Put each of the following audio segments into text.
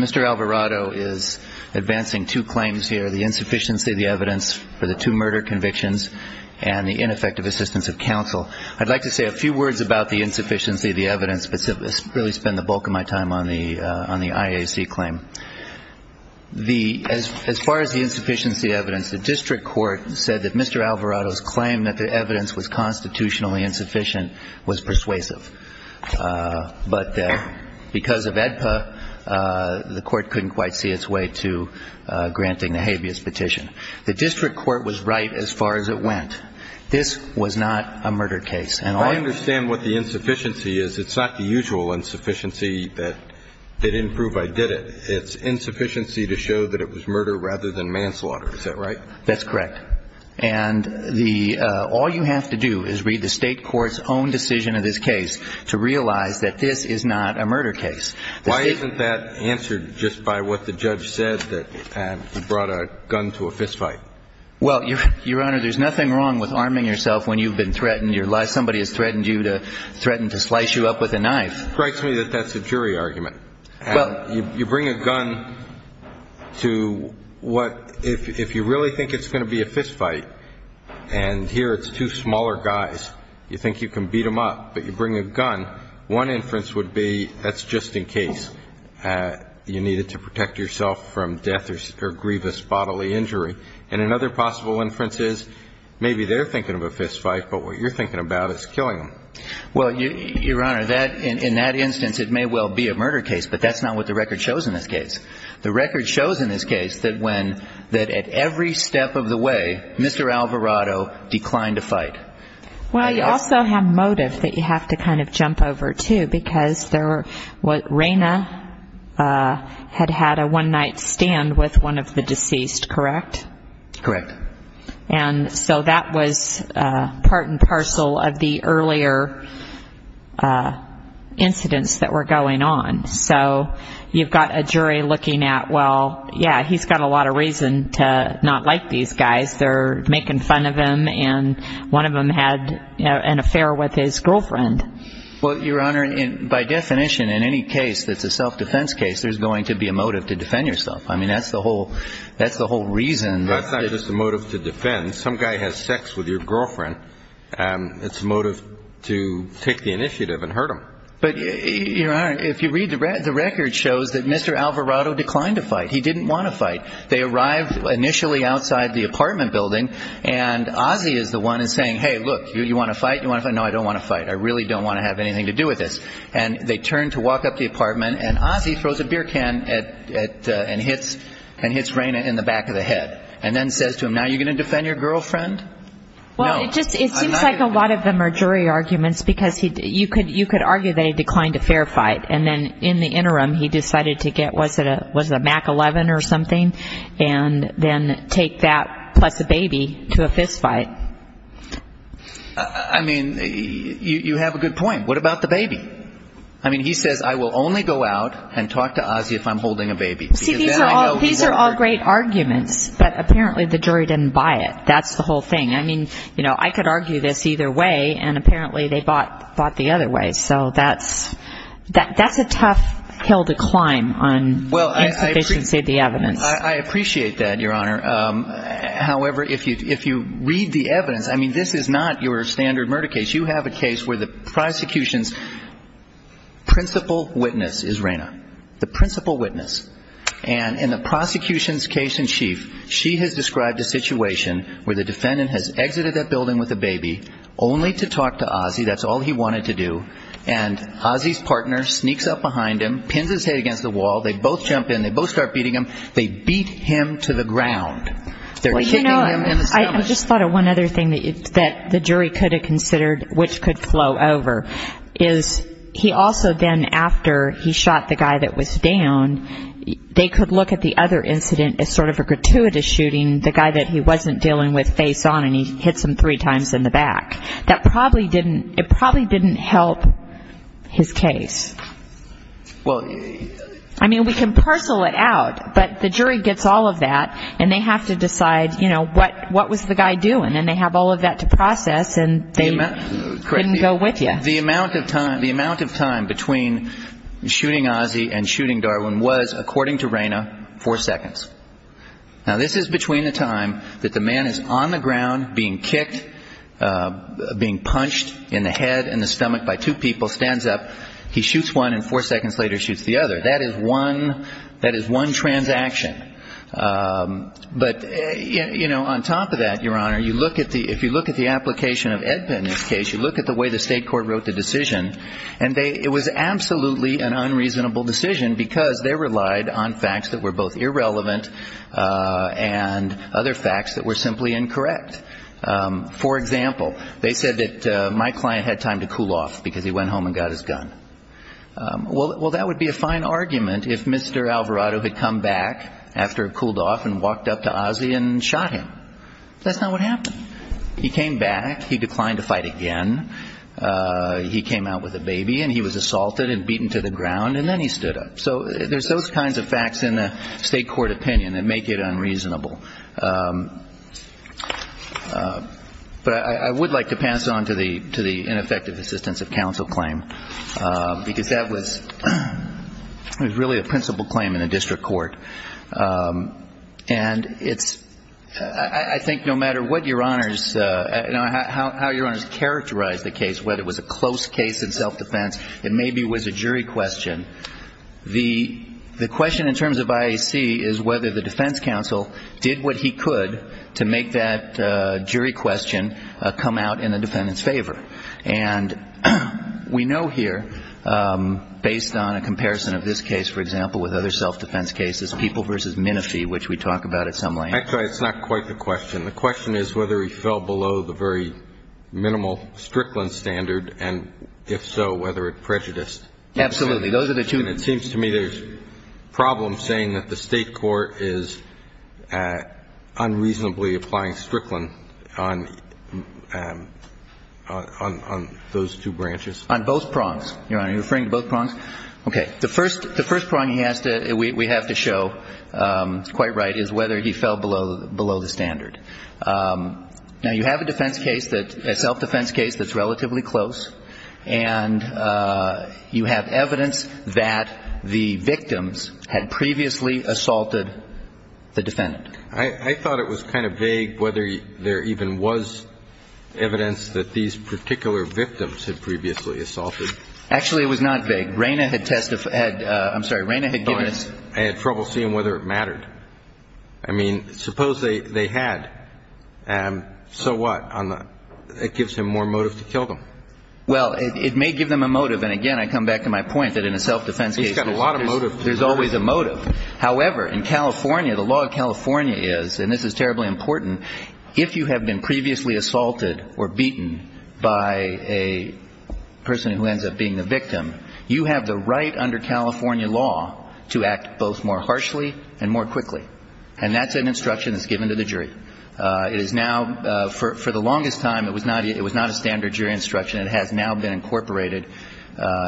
Mr. Alvarado is advancing two claims here, the insufficiency of the evidence for the I'd like to say a few words about the insufficiency of the evidence, but really spend the bulk of my time on the IAC claim. As far as the insufficiency evidence, the district court said that Mr. Alvarado's claim that the evidence was constitutionally insufficient was persuasive. But because of AEDPA, the court couldn't quite see its way to granting the habeas petition. The district court was right as far as it went. This was not a murder case. And I understand what the insufficiency is. It's not the usual insufficiency that they didn't prove I did it. It's insufficiency to show that it was murder rather than manslaughter. Is that right? That's correct. And the all you have to do is read the state court's own decision of this case to realize that this is not a murder case. Why isn't that answered just by what the judge said that he brought a gun to a fistfight? Well, Your Honor, there's nothing wrong with arming yourself when you've been threatened your life. Somebody has threatened you to threaten to slice you up with a knife. Strikes me that that's a jury argument. Well, you bring a gun to what if you really think it's going to be a fistfight and here it's two smaller guys. You think you can beat him up, but you bring a gun. One inference would be that's just in case you needed to protect yourself from death or grievous bodily injury. And another possible inference is maybe they're thinking of a fistfight, but what you're thinking about is killing them. Well, Your Honor, that in that instance, it may well be a murder case, but that's not what the record shows in this case. The record shows in this case that when that at every step of the way, Mr. Alvarado declined to fight. Well, you also have motive that you have to kind of jump over to because there was Raina had had a one night stand with one of the deceased. Correct. Correct. And so that was part and parcel of the earlier incidents that were going on. So you've got a jury looking at, well, yeah, he's got a lot of reason to not like these guys. They're making fun of him. And one of them had an affair with his girlfriend. Well, Your Honor, by definition, in any case that's a self-defense case, there's going to be a motive to defend yourself. I mean, that's the whole that's the whole reason. That's not just a motive to defend. Some guy has sex with your girlfriend. It's a motive to take the initiative and hurt him. But if you read the record, the record shows that Mr. Alvarado declined to fight. He didn't want to fight. They arrived initially outside the apartment building. And Ozzie is the one is saying, hey, look, you want to fight? You want to know? I don't want to fight. I really don't want to have anything to do with this. And they turn to walk up the apartment and Ozzie throws a beer can at and hits and hits Raina in the back of the head and then says to him, now you're going to defend your girlfriend? Well, it just it seems like a lot of them are jury arguments because you could you could argue that he declined a fair fight. And then in the interim, he decided to get what was it a Mac 11 or something and then take that plus a baby to a fist fight. I mean, you have a good point. What about the baby? I mean, he says, I will only go out and talk to Ozzie if I'm holding a baby. See, these are all these are all great arguments. But apparently the jury didn't buy it. That's the whole thing. I mean, you know, I could argue this either way. And apparently they bought bought the other way. So that's that's a tough hill to climb on. Well, I appreciate the evidence. I appreciate that, Your Honor. However, if you if you read the evidence, I mean, this is not your standard murder case. You have a case where the prosecution's principal witness is Raina, the principal witness. And in the prosecution's case in chief, she has described a situation where the defendant has exited that building with a baby only to talk to Ozzie. That's all he wanted to do. And Ozzie's partner sneaks up behind him, pins his head against the wall. They both jump in. They both start beating him. They beat him to the ground. Well, you know, I just thought of one other thing that the jury could have considered, which could flow over, is he also then after he shot the guy that was down, they could look at the other incident as sort of a gratuitous shooting the guy that he wasn't dealing with face on and he hits him three times in the back. That probably didn't it probably didn't help his case. Well, I mean, we can parcel it out, but the jury gets all of that and they have to decide, you know, what what was the guy doing? And they have all of that to process. And they didn't go with you. The amount of time, the amount of time between shooting Ozzie and shooting Darwin was, according to Raina, four seconds. Now, this is between the time that the man is on the ground being kicked, being punched in the head and the stomach by two people stands up. He shoots one and four seconds later shoots the other. That is one that is one transaction. But, you know, on top of that, your honor, you look at the if you look at the application of Edmund's case, you look at the way the state court wrote the decision. And it was absolutely an unreasonable decision because they relied on facts that were both irrelevant and other facts that were simply incorrect. For example, they said that my client had time to cool off because he went home and got his gun. Well, that would be a fine argument if Mr. Alvarado had come back after it cooled off and walked up to Ozzie and shot him. That's not what happened. He came back. He declined to fight again. He came out with a baby and he was assaulted and beaten to the ground. And then he stood up. So there's those kinds of facts in the state court opinion that make it unreasonable. But I would like to pass on to the to the ineffective assistance of counsel claim, because that was really a principal claim in a district court. And it's I think no matter what your honors, how your honors characterize the case, whether it was a close case in self-defense, it maybe was a jury question. The the question in terms of IAC is whether the defense counsel did what he could to make that jury question come out in the defendant's favor. And we know here, based on a comparison of this case, for example, with other self-defense cases, people versus Minofi, which we talk about at some length. Actually, it's not quite the question. The question is whether he fell below the very minimal Strickland standard and if so, whether it prejudiced. Absolutely. Those are the two. And it seems to me there's problems saying that the state court is unreasonably applying Strickland on on those two branches. On both prongs. You're referring to both prongs. OK. The first the first prong he has to we have to show it's quite right is whether he fell below below the standard. Now, you have a defense case that a self-defense case that's relatively close and you have evidence that the victims had previously assaulted the defendant. I thought it was kind of vague whether there even was evidence that these particular victims had previously assaulted. Actually, it was not vague. Raina had testified. I'm sorry. Raina had given us. I had trouble seeing whether it mattered. I mean, suppose they had. And so what? It gives him more motive to kill them. Well, it may give them a motive. And again, I come back to my point that in a self-defense case, you've got a lot of motive. There's always a motive. However, in California, the law of California is and this is terribly important. If you have been previously assaulted or beaten by a person who ends up being the victim, you have the right under California law to act both more harshly and more quickly. And that's an instruction that's given to the jury. It is now for the longest time. It was not it was not a standard jury instruction. It has now been incorporated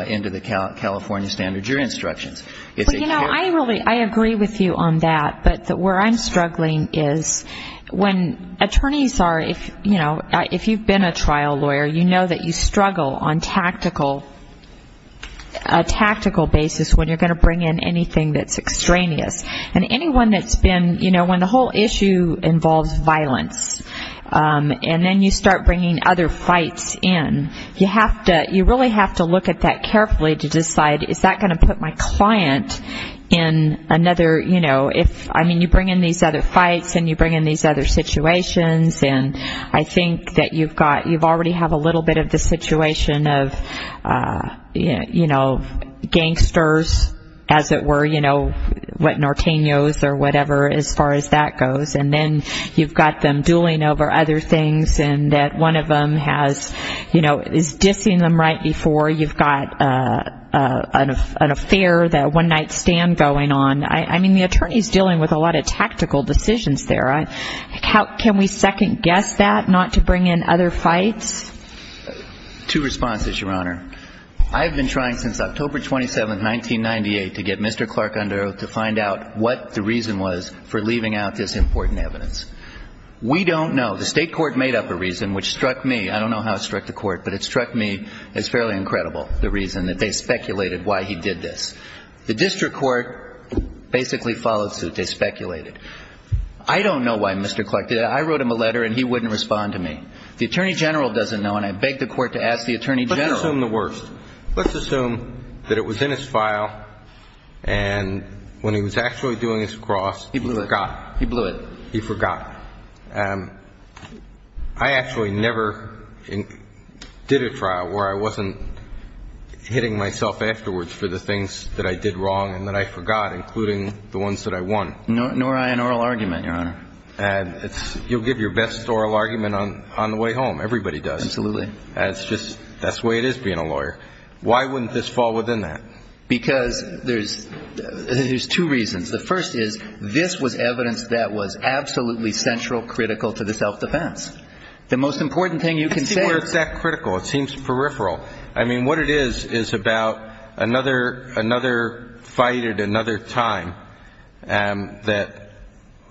into the California standard jury instructions. It's you know, I really I agree with you on that. But where I'm struggling is when attorneys are if you know, if you've been a trial lawyer, you know that you struggle on tactical, a tactical basis when you're going to bring in anything that's extraneous. And anyone that's been you know, when the whole issue involves violence and then you start bringing other fights in, you have to you really have to look at that carefully to decide, is that going to put my client in another? You know, if I mean, you bring in these other fights and you bring in these other situations. And I think that you've got you've already have a little bit of the situation of, you know, gangsters, as it were, you know, what Norteño's or whatever, as far as that goes. And then you've got them dueling over other things and that one of them has, you know, is dissing them right before you've got an affair that one night stand going on. I mean, the attorney is dealing with a lot of tactical decisions there. Can we second guess that not to bring in other fights to responses? Your Honor, I've been trying since October 27th, 1998, to get Mr. Clark under oath to find out what the reason was for leaving out this important evidence. We don't know. The state court made up a reason which struck me. I don't know how it struck the court, but it struck me as fairly incredible the reason that they speculated why he did this. The district court basically followed suit. They speculated. I don't know why Mr. Clark did it. I wrote him a letter and he wouldn't respond to me. The attorney general doesn't know. And I beg the court to ask the attorney general the worst. Let's assume that it was in his file. And when he was actually doing his cross, he blew it. He blew it. He forgot. I actually never did a trial where I wasn't hitting myself afterwards for the things that I did wrong and that I forgot, including the ones that I won. Nor I an oral argument, Your Honor. And you'll give your best oral argument on the way home. Everybody does. Absolutely. That's just that's the way it is being a lawyer. Why wouldn't this fall within that? Because there's there's two reasons. The first is this was evidence that was absolutely central, critical to the self-defense. The most important thing you can say is that critical. It seems peripheral. I mean, what it is is about another another fight at another time that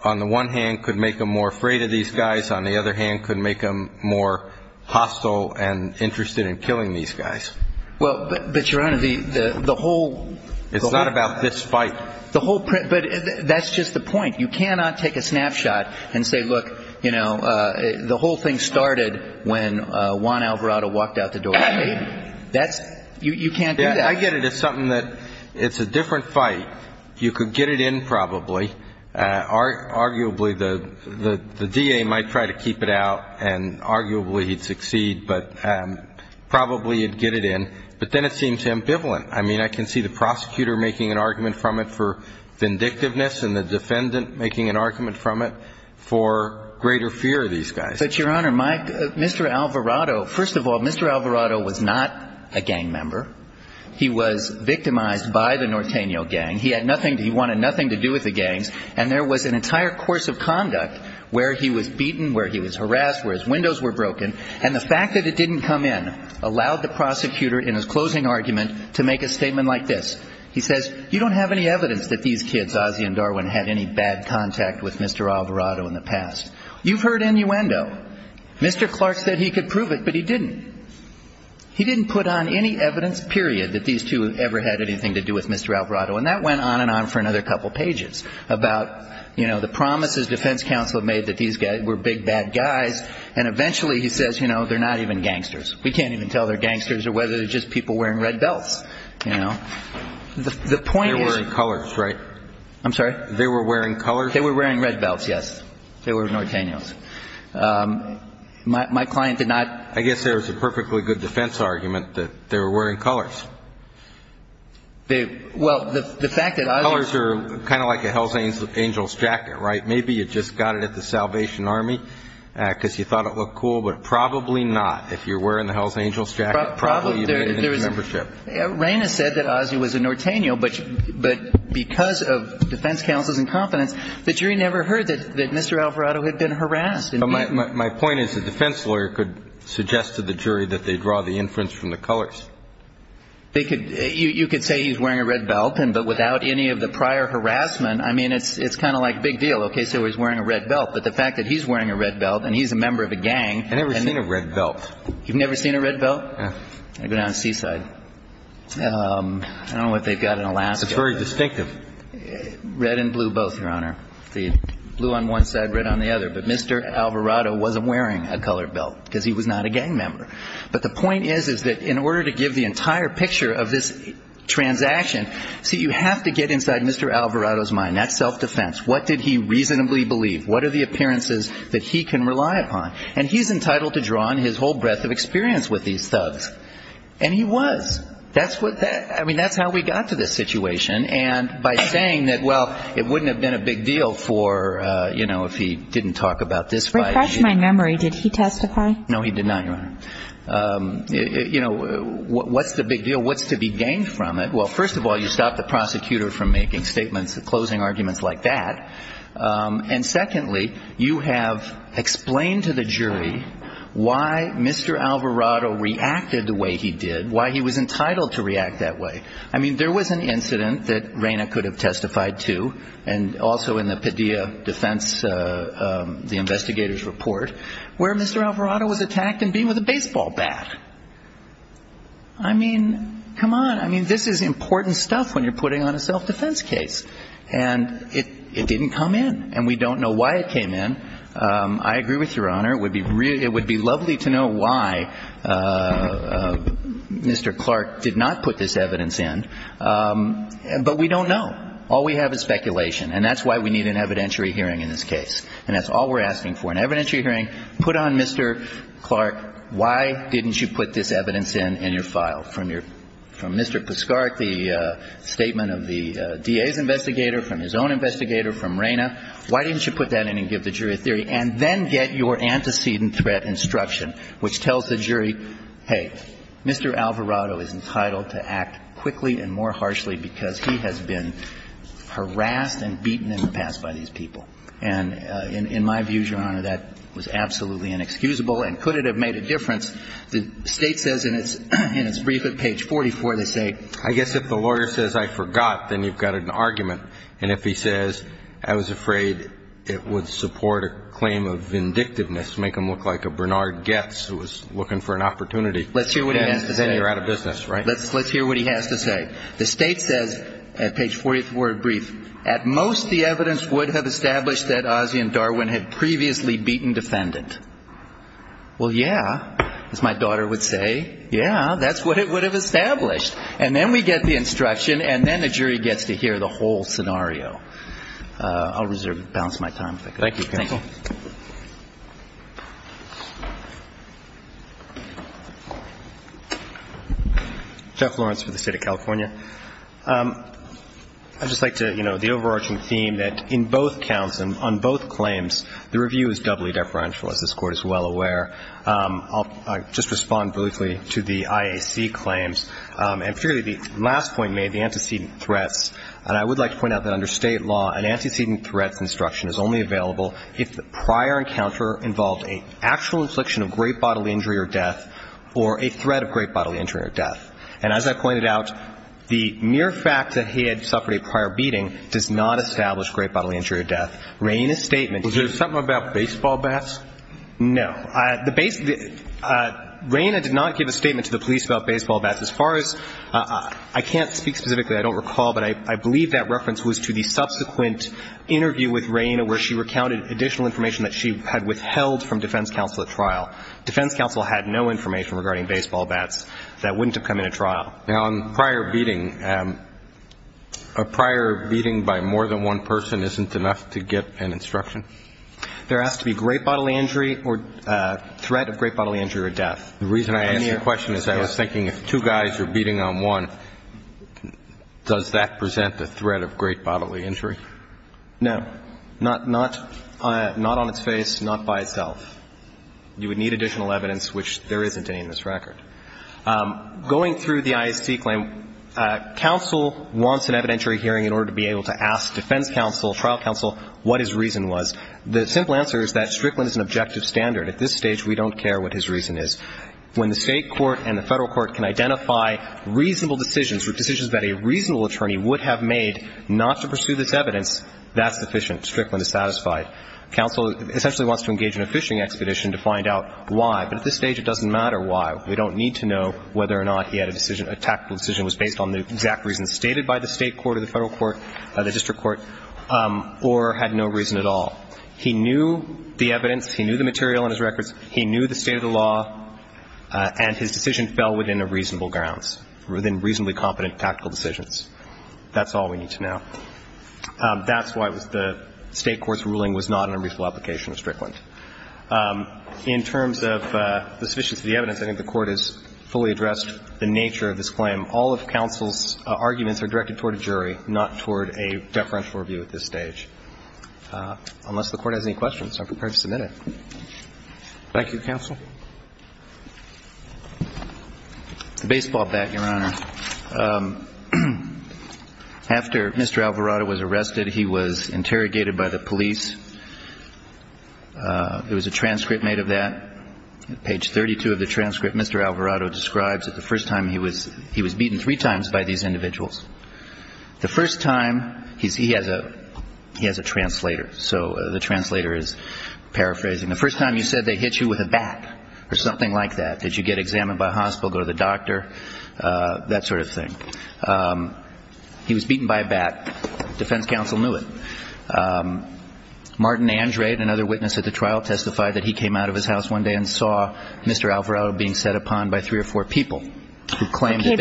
on the one hand could make them more afraid of these guys. On the other hand, could make them more hostile and interested in killing these guys. Well, but Your Honor, the the whole. It's not about this fight. The whole. But that's just the point. You cannot take a snapshot and say, look, you know, the whole thing started when one Alvarado walked out the door. That's you. You can't do that. I get it. It's something that it's a different fight. You could get it in. Probably are arguably the the the D.A. might try to keep it out and arguably he'd succeed. But probably you'd get it in. But then it seems ambivalent. I mean, I can see the prosecutor making an argument from it for vindictiveness and the defendant making an argument from it for greater fear of these guys. But Your Honor, my Mr. Alvarado, first of all, Mr. Alvarado was not a gang member. He was victimized by the Norteño gang. He had nothing. He wanted nothing to do with the gangs. And there was an entire course of conduct where he was beaten, where he was harassed, where his windows were broken. And the fact that it didn't come in allowed the prosecutor in his closing argument to make a statement like this. He says, you don't have any evidence that these kids, Ozzie and Darwin, had any bad contact with Mr. Alvarado in the past. You've heard innuendo. Mr. Clark said he could prove it, but he didn't. He didn't put on any evidence, period, that these two ever had anything to do with Mr. Alvarado. And that went on and on for another couple of pages about, you know, the promises defense counsel made that these guys were big, bad guys. And eventually he says, you know, they're not even gangsters. We can't even tell they're gangsters or whether they're just people wearing red belts. You know, the point is. They were wearing colors, right? I'm sorry? They were wearing colors? They were wearing red belts. Yes, they were Norteños. My client did not. I guess there was a perfectly good defense argument that they were wearing colors. Well, the fact that. Colors are kind of like a Hells Angels jacket, right? Maybe you just got it at the Salvation Army because you thought it looked cool, but probably not. If you're wearing the Hells Angels jacket, probably you made a new membership. Reina said that Ozzie was a Norteño, but but because of defense counsel's incompetence, the jury never heard that Mr. Alvarado had been harassed. And my point is the defense lawyer could suggest to the jury that they draw the inference from the colors. They could you could say he's wearing a red belt and but without any of the prior harassment, I mean, it's it's kind of like big deal. OK, so he's wearing a red belt. But the fact that he's wearing a red belt and he's a member of a gang. I've never seen a red belt. You've never seen a red belt? I've been on Seaside. I don't know what they've got in Alaska. It's very distinctive. Red and blue, both your honor. The blue on one side, red on the other. But Mr. Alvarado wasn't wearing a colored belt because he was not a gang member. But the point is, is that in order to give the entire picture of this transaction, so you have to get inside Mr. Alvarado's mind. That's self-defense. What did he reasonably believe? What are the appearances that he can rely upon? And he's entitled to draw on his whole breadth of experience with these thugs. And he was. That's what that I mean, that's how we got to this situation. And by saying that, well, it wouldn't have been a big deal for, you know, if he didn't talk about this. Refresh my memory. Did he testify? No, he did not. You know, what's the big deal? What's to be gained from it? Well, first of all, you stop the prosecutor from making statements and closing arguments like that. And secondly, you have explained to the jury why Mr. Alvarado reacted the way he did, why he was entitled to react that way. I mean, there was an incident that Raina could have testified to. And also in the Padilla defense, the investigators report where Mr. Alvarado was attacked and being with a baseball bat. I mean, come on. I mean, this is important stuff when you're putting on a self-defense case and it didn't come in and we don't know why it came in. I agree with Your Honor. It would be really it would be lovely to know why Mr. Clark did not put this evidence in. But we don't know. All we have is speculation. And that's why we need an evidentiary hearing in this case. And that's all we're asking for, an evidentiary hearing. Put on Mr. Clark. Why didn't you put this evidence in in your file from your from Mr. Puskarek, the statement of the DA's investigator, from his own investigator, from Raina? Why didn't you put that in and give the jury a theory and then get your antecedent threat instruction, which tells the jury, hey, Mr. Alvarado is entitled to act quickly and more harshly because he has been harassed and beaten in the past by these people. And in my view, Your Honor, that was absolutely inexcusable. And could it have made a difference? The state says in its in its brief at page 44, they say, I guess if the lawyer says I forgot, then you've got an argument. And if he says I was afraid it would support a claim of vindictiveness, make him look like a Bernard Getz who was looking for an opportunity. Let's hear what he has to say. You're out of business, right? Let's let's hear what he has to say. The state says at page 44 brief, at most, the evidence would have established that Ozzie and Darwin had previously beaten defendant. Well, yeah, as my daughter would say, yeah, that's what it would have established. And then we get the instruction and then the jury gets to hear the whole scenario. Uh, I'll reserve, balance my time. Thank you. Jeff Lawrence for the state of California. Um, I'd just like to, you know, the overarching theme that in both counts and on well aware, um, I'll just respond briefly to the IAC claims. Um, and purely the last point made the antecedent threats. And I would like to point out that under state law, an antecedent threats instruction is only available if the prior encounter involved a actual infliction of great bodily injury or death or a threat of great bodily injury or death. And as I pointed out, the mere fact that he had suffered a prior beating does not establish great bodily injury or death. Rain a statement. Was there something about baseball bats? No. Uh, the base, uh, rain, I did not give a statement to the police about baseball bats as far as, uh, I can't speak specifically. I don't recall, but I, I believe that reference was to the subsequent interview with rain where she recounted additional information that she had withheld from defense counsel at trial. Defense counsel had no information regarding baseball bats that wouldn't have come in a trial now on prior beating, um, a prior beating by more than one person isn't enough to get an instruction. There has to be great bodily injury or a threat of great bodily injury or death. The reason I asked you a question is I was thinking if two guys are beating on one, does that present the threat of great bodily injury? No, not, not, uh, not on its face, not by itself. You would need additional evidence, which there isn't any in this record. Um, going through the IAC claim, uh, counsel wants an evidentiary hearing in order to be able to ask defense counsel, trial counsel, what his reason was. The simple answer is that Strickland is an objective standard. At this stage, we don't care what his reason is. When the state court and the federal court can identify reasonable decisions or decisions that a reasonable attorney would have made not to pursue this evidence, that's sufficient. Strickland is satisfied. Counsel essentially wants to engage in a fishing expedition to find out why, but at this stage, it doesn't matter why we don't need to know whether or not he had a decision, a tactical decision was based on the exact reasons stated by the state court or the federal court, uh, the district court, um, or had no reason at all. He knew the evidence, he knew the material in his records, he knew the state of the law, uh, and his decision fell within a reasonable grounds, within reasonably competent tactical decisions. That's all we need to know. Um, that's why it was the state court's ruling was not an unreasonable application of Strickland. Um, in terms of, uh, the sufficiency of the evidence, I think the court has fully addressed the nature of this claim. All of counsel's arguments are directed toward a jury, not toward a deferential review at this stage. Uh, unless the court has any questions, I'm prepared to submit it. Thank you, counsel. Baseball bat, Your Honor. Um, after Mr. Alvarado was arrested, he was interrogated by the police. Uh, there was a transcript made of that. At page 32 of the transcript, Mr. Alvarado describes that the first time he was, he was beaten three times by these individuals. The first time he's, he has a, he has a translator. So the translator is paraphrasing the first time you said they hit you with a bat or something like that. Did you get examined by hospital, go to the doctor, uh, that sort of thing. Um, he was beaten by a bat defense counsel knew it. Um, Martin Andrade, another witness at the trial testified that he came out of his house one day and saw Mr. Alvarado being set upon by three or four people who claimed he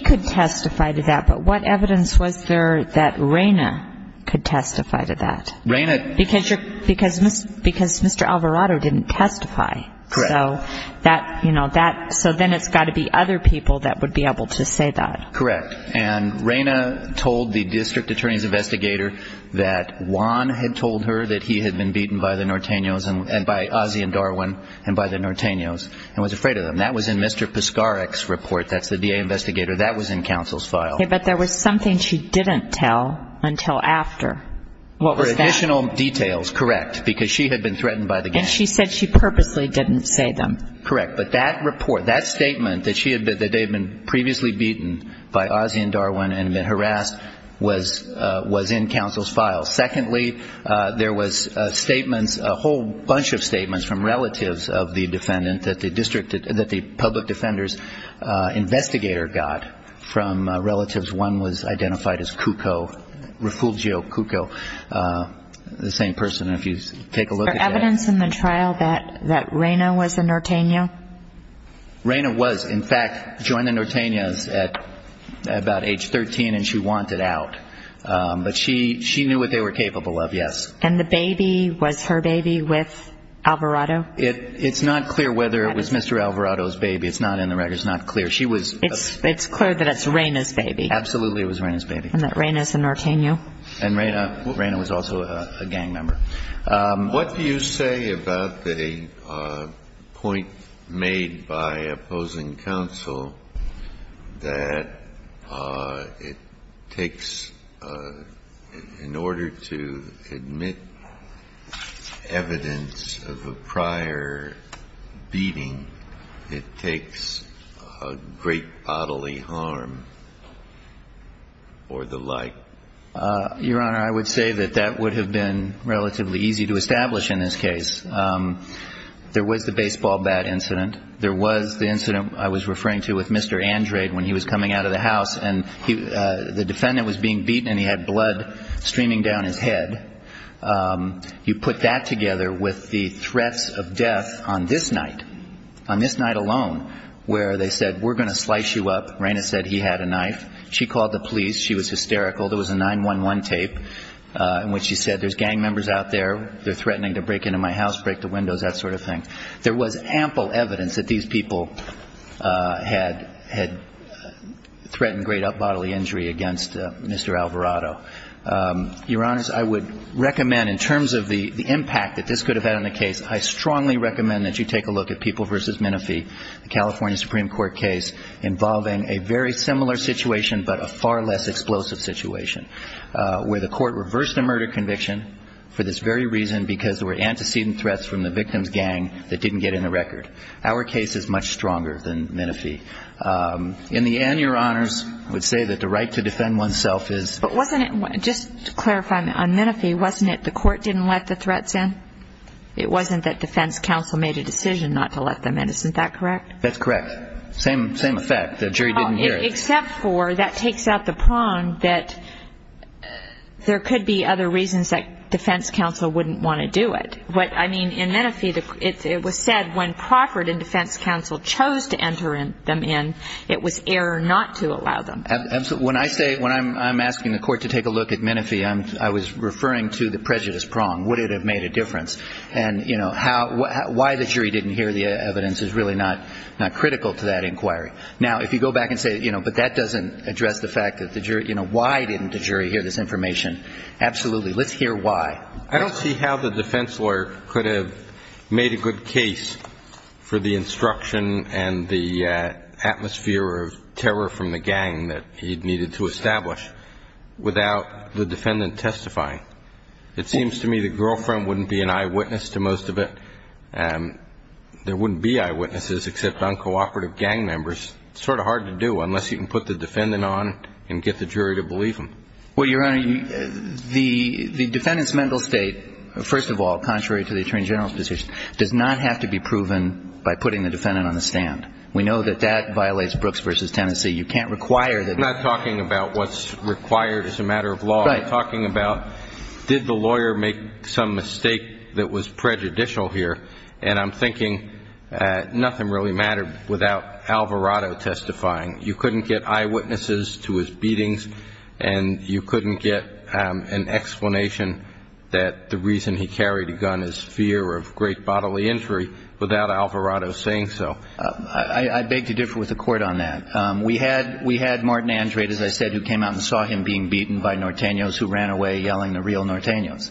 could testify to that. But what evidence was there that Raina could testify to that Raina because you're, because, because Mr. Alvarado didn't testify so that, you know, that, so then it's got to be other people that would be able to say that. Correct. And Raina told the district attorney's investigator that Juan had told her that he had been beaten by the Norteños and by Ozzie and Darwin and by the Norteños. And was afraid of them. That was in Mr. Piskarek's report. That's the DA investigator. That was in counsel's file. But there was something she didn't tell until after what was that additional details. Correct. Because she had been threatened by the gang. She said she purposely didn't say them. Correct. But that report, that statement that she had been, that they'd been previously beaten by Ozzie and Darwin and been harassed was, uh, was in counsel's file. Secondly, uh, there was a statements, a whole bunch of statements from relatives of the defendant that the district, that the public defenders, uh, investigator got from relatives. One was identified as Cucco, Refugio Cucco, uh, the same person. And if you take a look at that. Is there evidence in the trial that, that Raina was a Norteño? Raina was in fact, joined the Norteños at about age 13 and she wanted out. Um, but she, she knew what they were capable of. Yes. And the baby was her baby with Alvarado? It, it's not clear whether it was Mr. Alvarado's baby. It's not in the record. It's not clear. She was, it's, it's clear that it's Raina's baby. Absolutely. It was Raina's baby. And that Raina's a Norteño. And Raina, Raina was also a gang member. Um, what do you say about the, uh, point made by opposing counsel that, uh, it requires beating, it takes a great bodily harm or the like? Uh, Your Honor, I would say that that would have been relatively easy to establish in this case. Um, there was the baseball bat incident. There was the incident I was referring to with Mr. Andrade when he was coming out of the house and he, uh, the defendant was being beaten and he had blood streaming down his head. Um, you put that together with the threats of death on this night, on this night alone, where they said, we're going to slice you up. Raina said he had a knife. She called the police. She was hysterical. There was a 9-1-1 tape, uh, in which she said there's gang members out there. They're threatening to break into my house, break the windows, that sort of thing. There was ample evidence that these people, uh, had, had threatened great up bodily injury against Mr. Alvarado. Um, Your Honors, I would recommend in terms of the, the impact that this could have had on the case, I strongly recommend that you take a look at People v. Menifee, the California Supreme Court case involving a very similar situation, but a far less explosive situation, uh, where the court reversed a murder conviction for this very reason, because there were antecedent threats from the victim's gang that didn't get in the record. Our case is much stronger than Menifee. Um, in the end, Your Honors, I would say that the right to defend oneself is... But wasn't it, just to clarify on Menifee, wasn't it the court didn't let the threats in? It wasn't that defense counsel made a decision not to let them in. Isn't that correct? That's correct. Same, same effect. The jury didn't hear it. Except for, that takes out the prong that there could be other reasons that defense counsel wouldn't want to do it. But I mean, in Menifee, it was said when Crawford and defense counsel chose to enter them in, it was error not to allow them. When I say, when I'm, I'm asking the court to take a look at Menifee, I'm, I was referring to the prejudice prong. Would it have made a difference? And you know, how, why the jury didn't hear the evidence is really not, not critical to that inquiry. Now, if you go back and say, you know, but that doesn't address the fact that the jury, you know, why didn't the jury hear this information? Absolutely. Let's hear why. I don't see how the defense lawyer could have made a good case for the he'd needed to establish without the defendant testifying. It seems to me the girlfriend wouldn't be an eyewitness to most of it. Um, there wouldn't be eyewitnesses except uncooperative gang members. It's sort of hard to do unless you can put the defendant on and get the jury to believe him. Well, your Honor, the defendant's mental state, first of all, contrary to the attorney general's position, does not have to be proven by putting the defendant on the stand. We know that that violates Brooks versus Tennessee. You can't require that. I'm not talking about what's required as a matter of law. I'm talking about, did the lawyer make some mistake that was prejudicial here? And I'm thinking, uh, nothing really mattered without Alvarado testifying. You couldn't get eyewitnesses to his beatings and you couldn't get, um, an explanation that the reason he carried a gun is fear of great bodily injury without Alvarado saying so. Uh, I, I beg to differ with the court on that. Um, we had, we had Martin Andrade, as I said, who came out and saw him being beaten by Nortenos who ran away yelling the real Nortenos.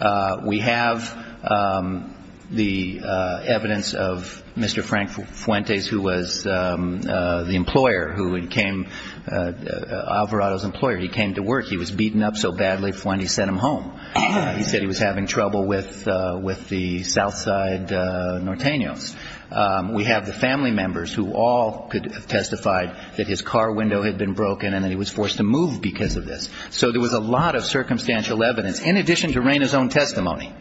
Uh, we have, um, the, uh, evidence of Mr. Frank Fuentes, who was, um, uh, the employer who had came, uh, uh, Alvarado's employer, he came to work, he was beaten up so badly Fuentes sent him home. He said he was having trouble with, uh, with the South side, uh, Nortenos. Um, we have the family members who all could have testified that his car window had been broken and that he was forced to move because of this. So there was a lot of circumstantial evidence in addition to Raina's own testimony,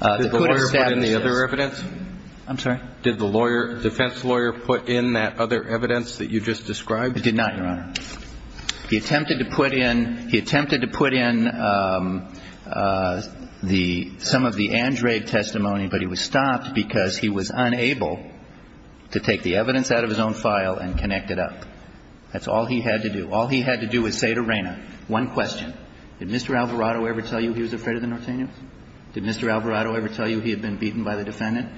uh, the other evidence. I'm sorry. Did the lawyer defense lawyer put in that other evidence that you just described? It did not, Your Honor. He attempted to put in, he attempted to put in, um, uh, the, some of the Andrade testimony, but he was stopped because he was unable to take the evidence out of his own file and connect it up. That's all he had to do. All he had to do is say to Raina, one question, did Mr. Alvarado ever tell you he was afraid of the Nortenos? Did Mr. Alvarado ever tell you he had been beaten by the defendant?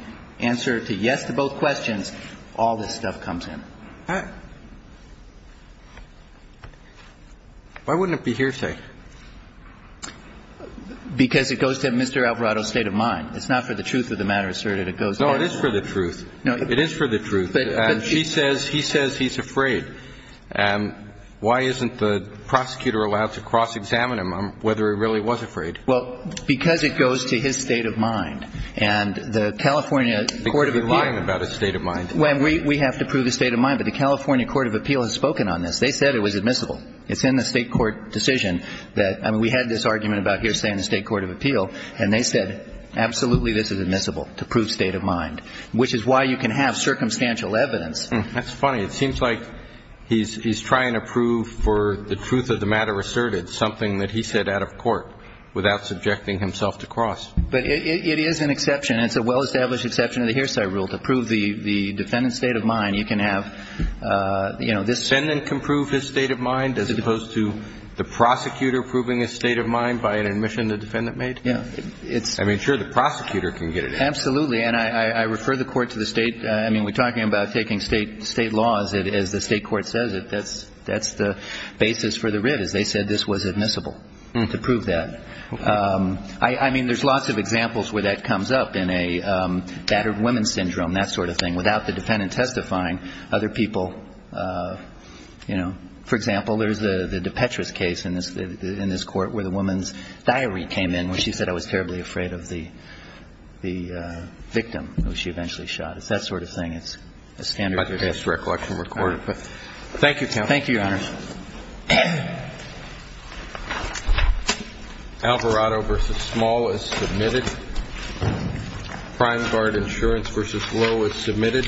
Answer to yes to both questions, all this stuff comes in. Why wouldn't it be hearsay? Because it goes to Mr. Alvarado's state of mind. It's not for the truth of the matter asserted. It goes. No, it is for the truth. No, it is for the truth. But she says, he says he's afraid. And why isn't the prosecutor allowed to cross examine him on whether he really was afraid? Well, because it goes to his state of mind and the California court of appeal. About his state of mind. When we, we have to prove the state of mind, but the California court of appeal has spoken on this. They said it was admissible. It's in the state court decision that, I mean, we had this argument about hearsay and the state court of appeal, and they said, absolutely. This is admissible to prove state of mind, which is why you can have circumstantial evidence. That's funny. It seems like he's, he's trying to prove for the truth of the matter asserted something that he said out of court without subjecting himself to cross, but it is an exception. It's a well-established exception to the hearsay rule to prove the defendant's state of mind. You can have a, you know, this can prove his state of mind as opposed to the defendant made. Yeah, it's, I mean, sure. The prosecutor can get it. Absolutely. And I, I refer the court to the state. I mean, we're talking about taking state, state laws as the state court says it. That's, that's the basis for the writ as they said, this was admissible to prove that. Okay. Um, I, I mean, there's lots of examples where that comes up in a, um, battered women's syndrome, that sort of thing without the defendant testifying other people, uh, you know, for example, there's the, the DePetris case in this, in this court where the woman's diary came in, where she said, I was terribly afraid of the, the, uh, victim who she eventually shot. It's that sort of thing. It's a standard recollection recorded, but thank you. Thank you, Your Honor. Alvarado versus small is submitted. Prime guard insurance versus low is submitted and we are adjourned.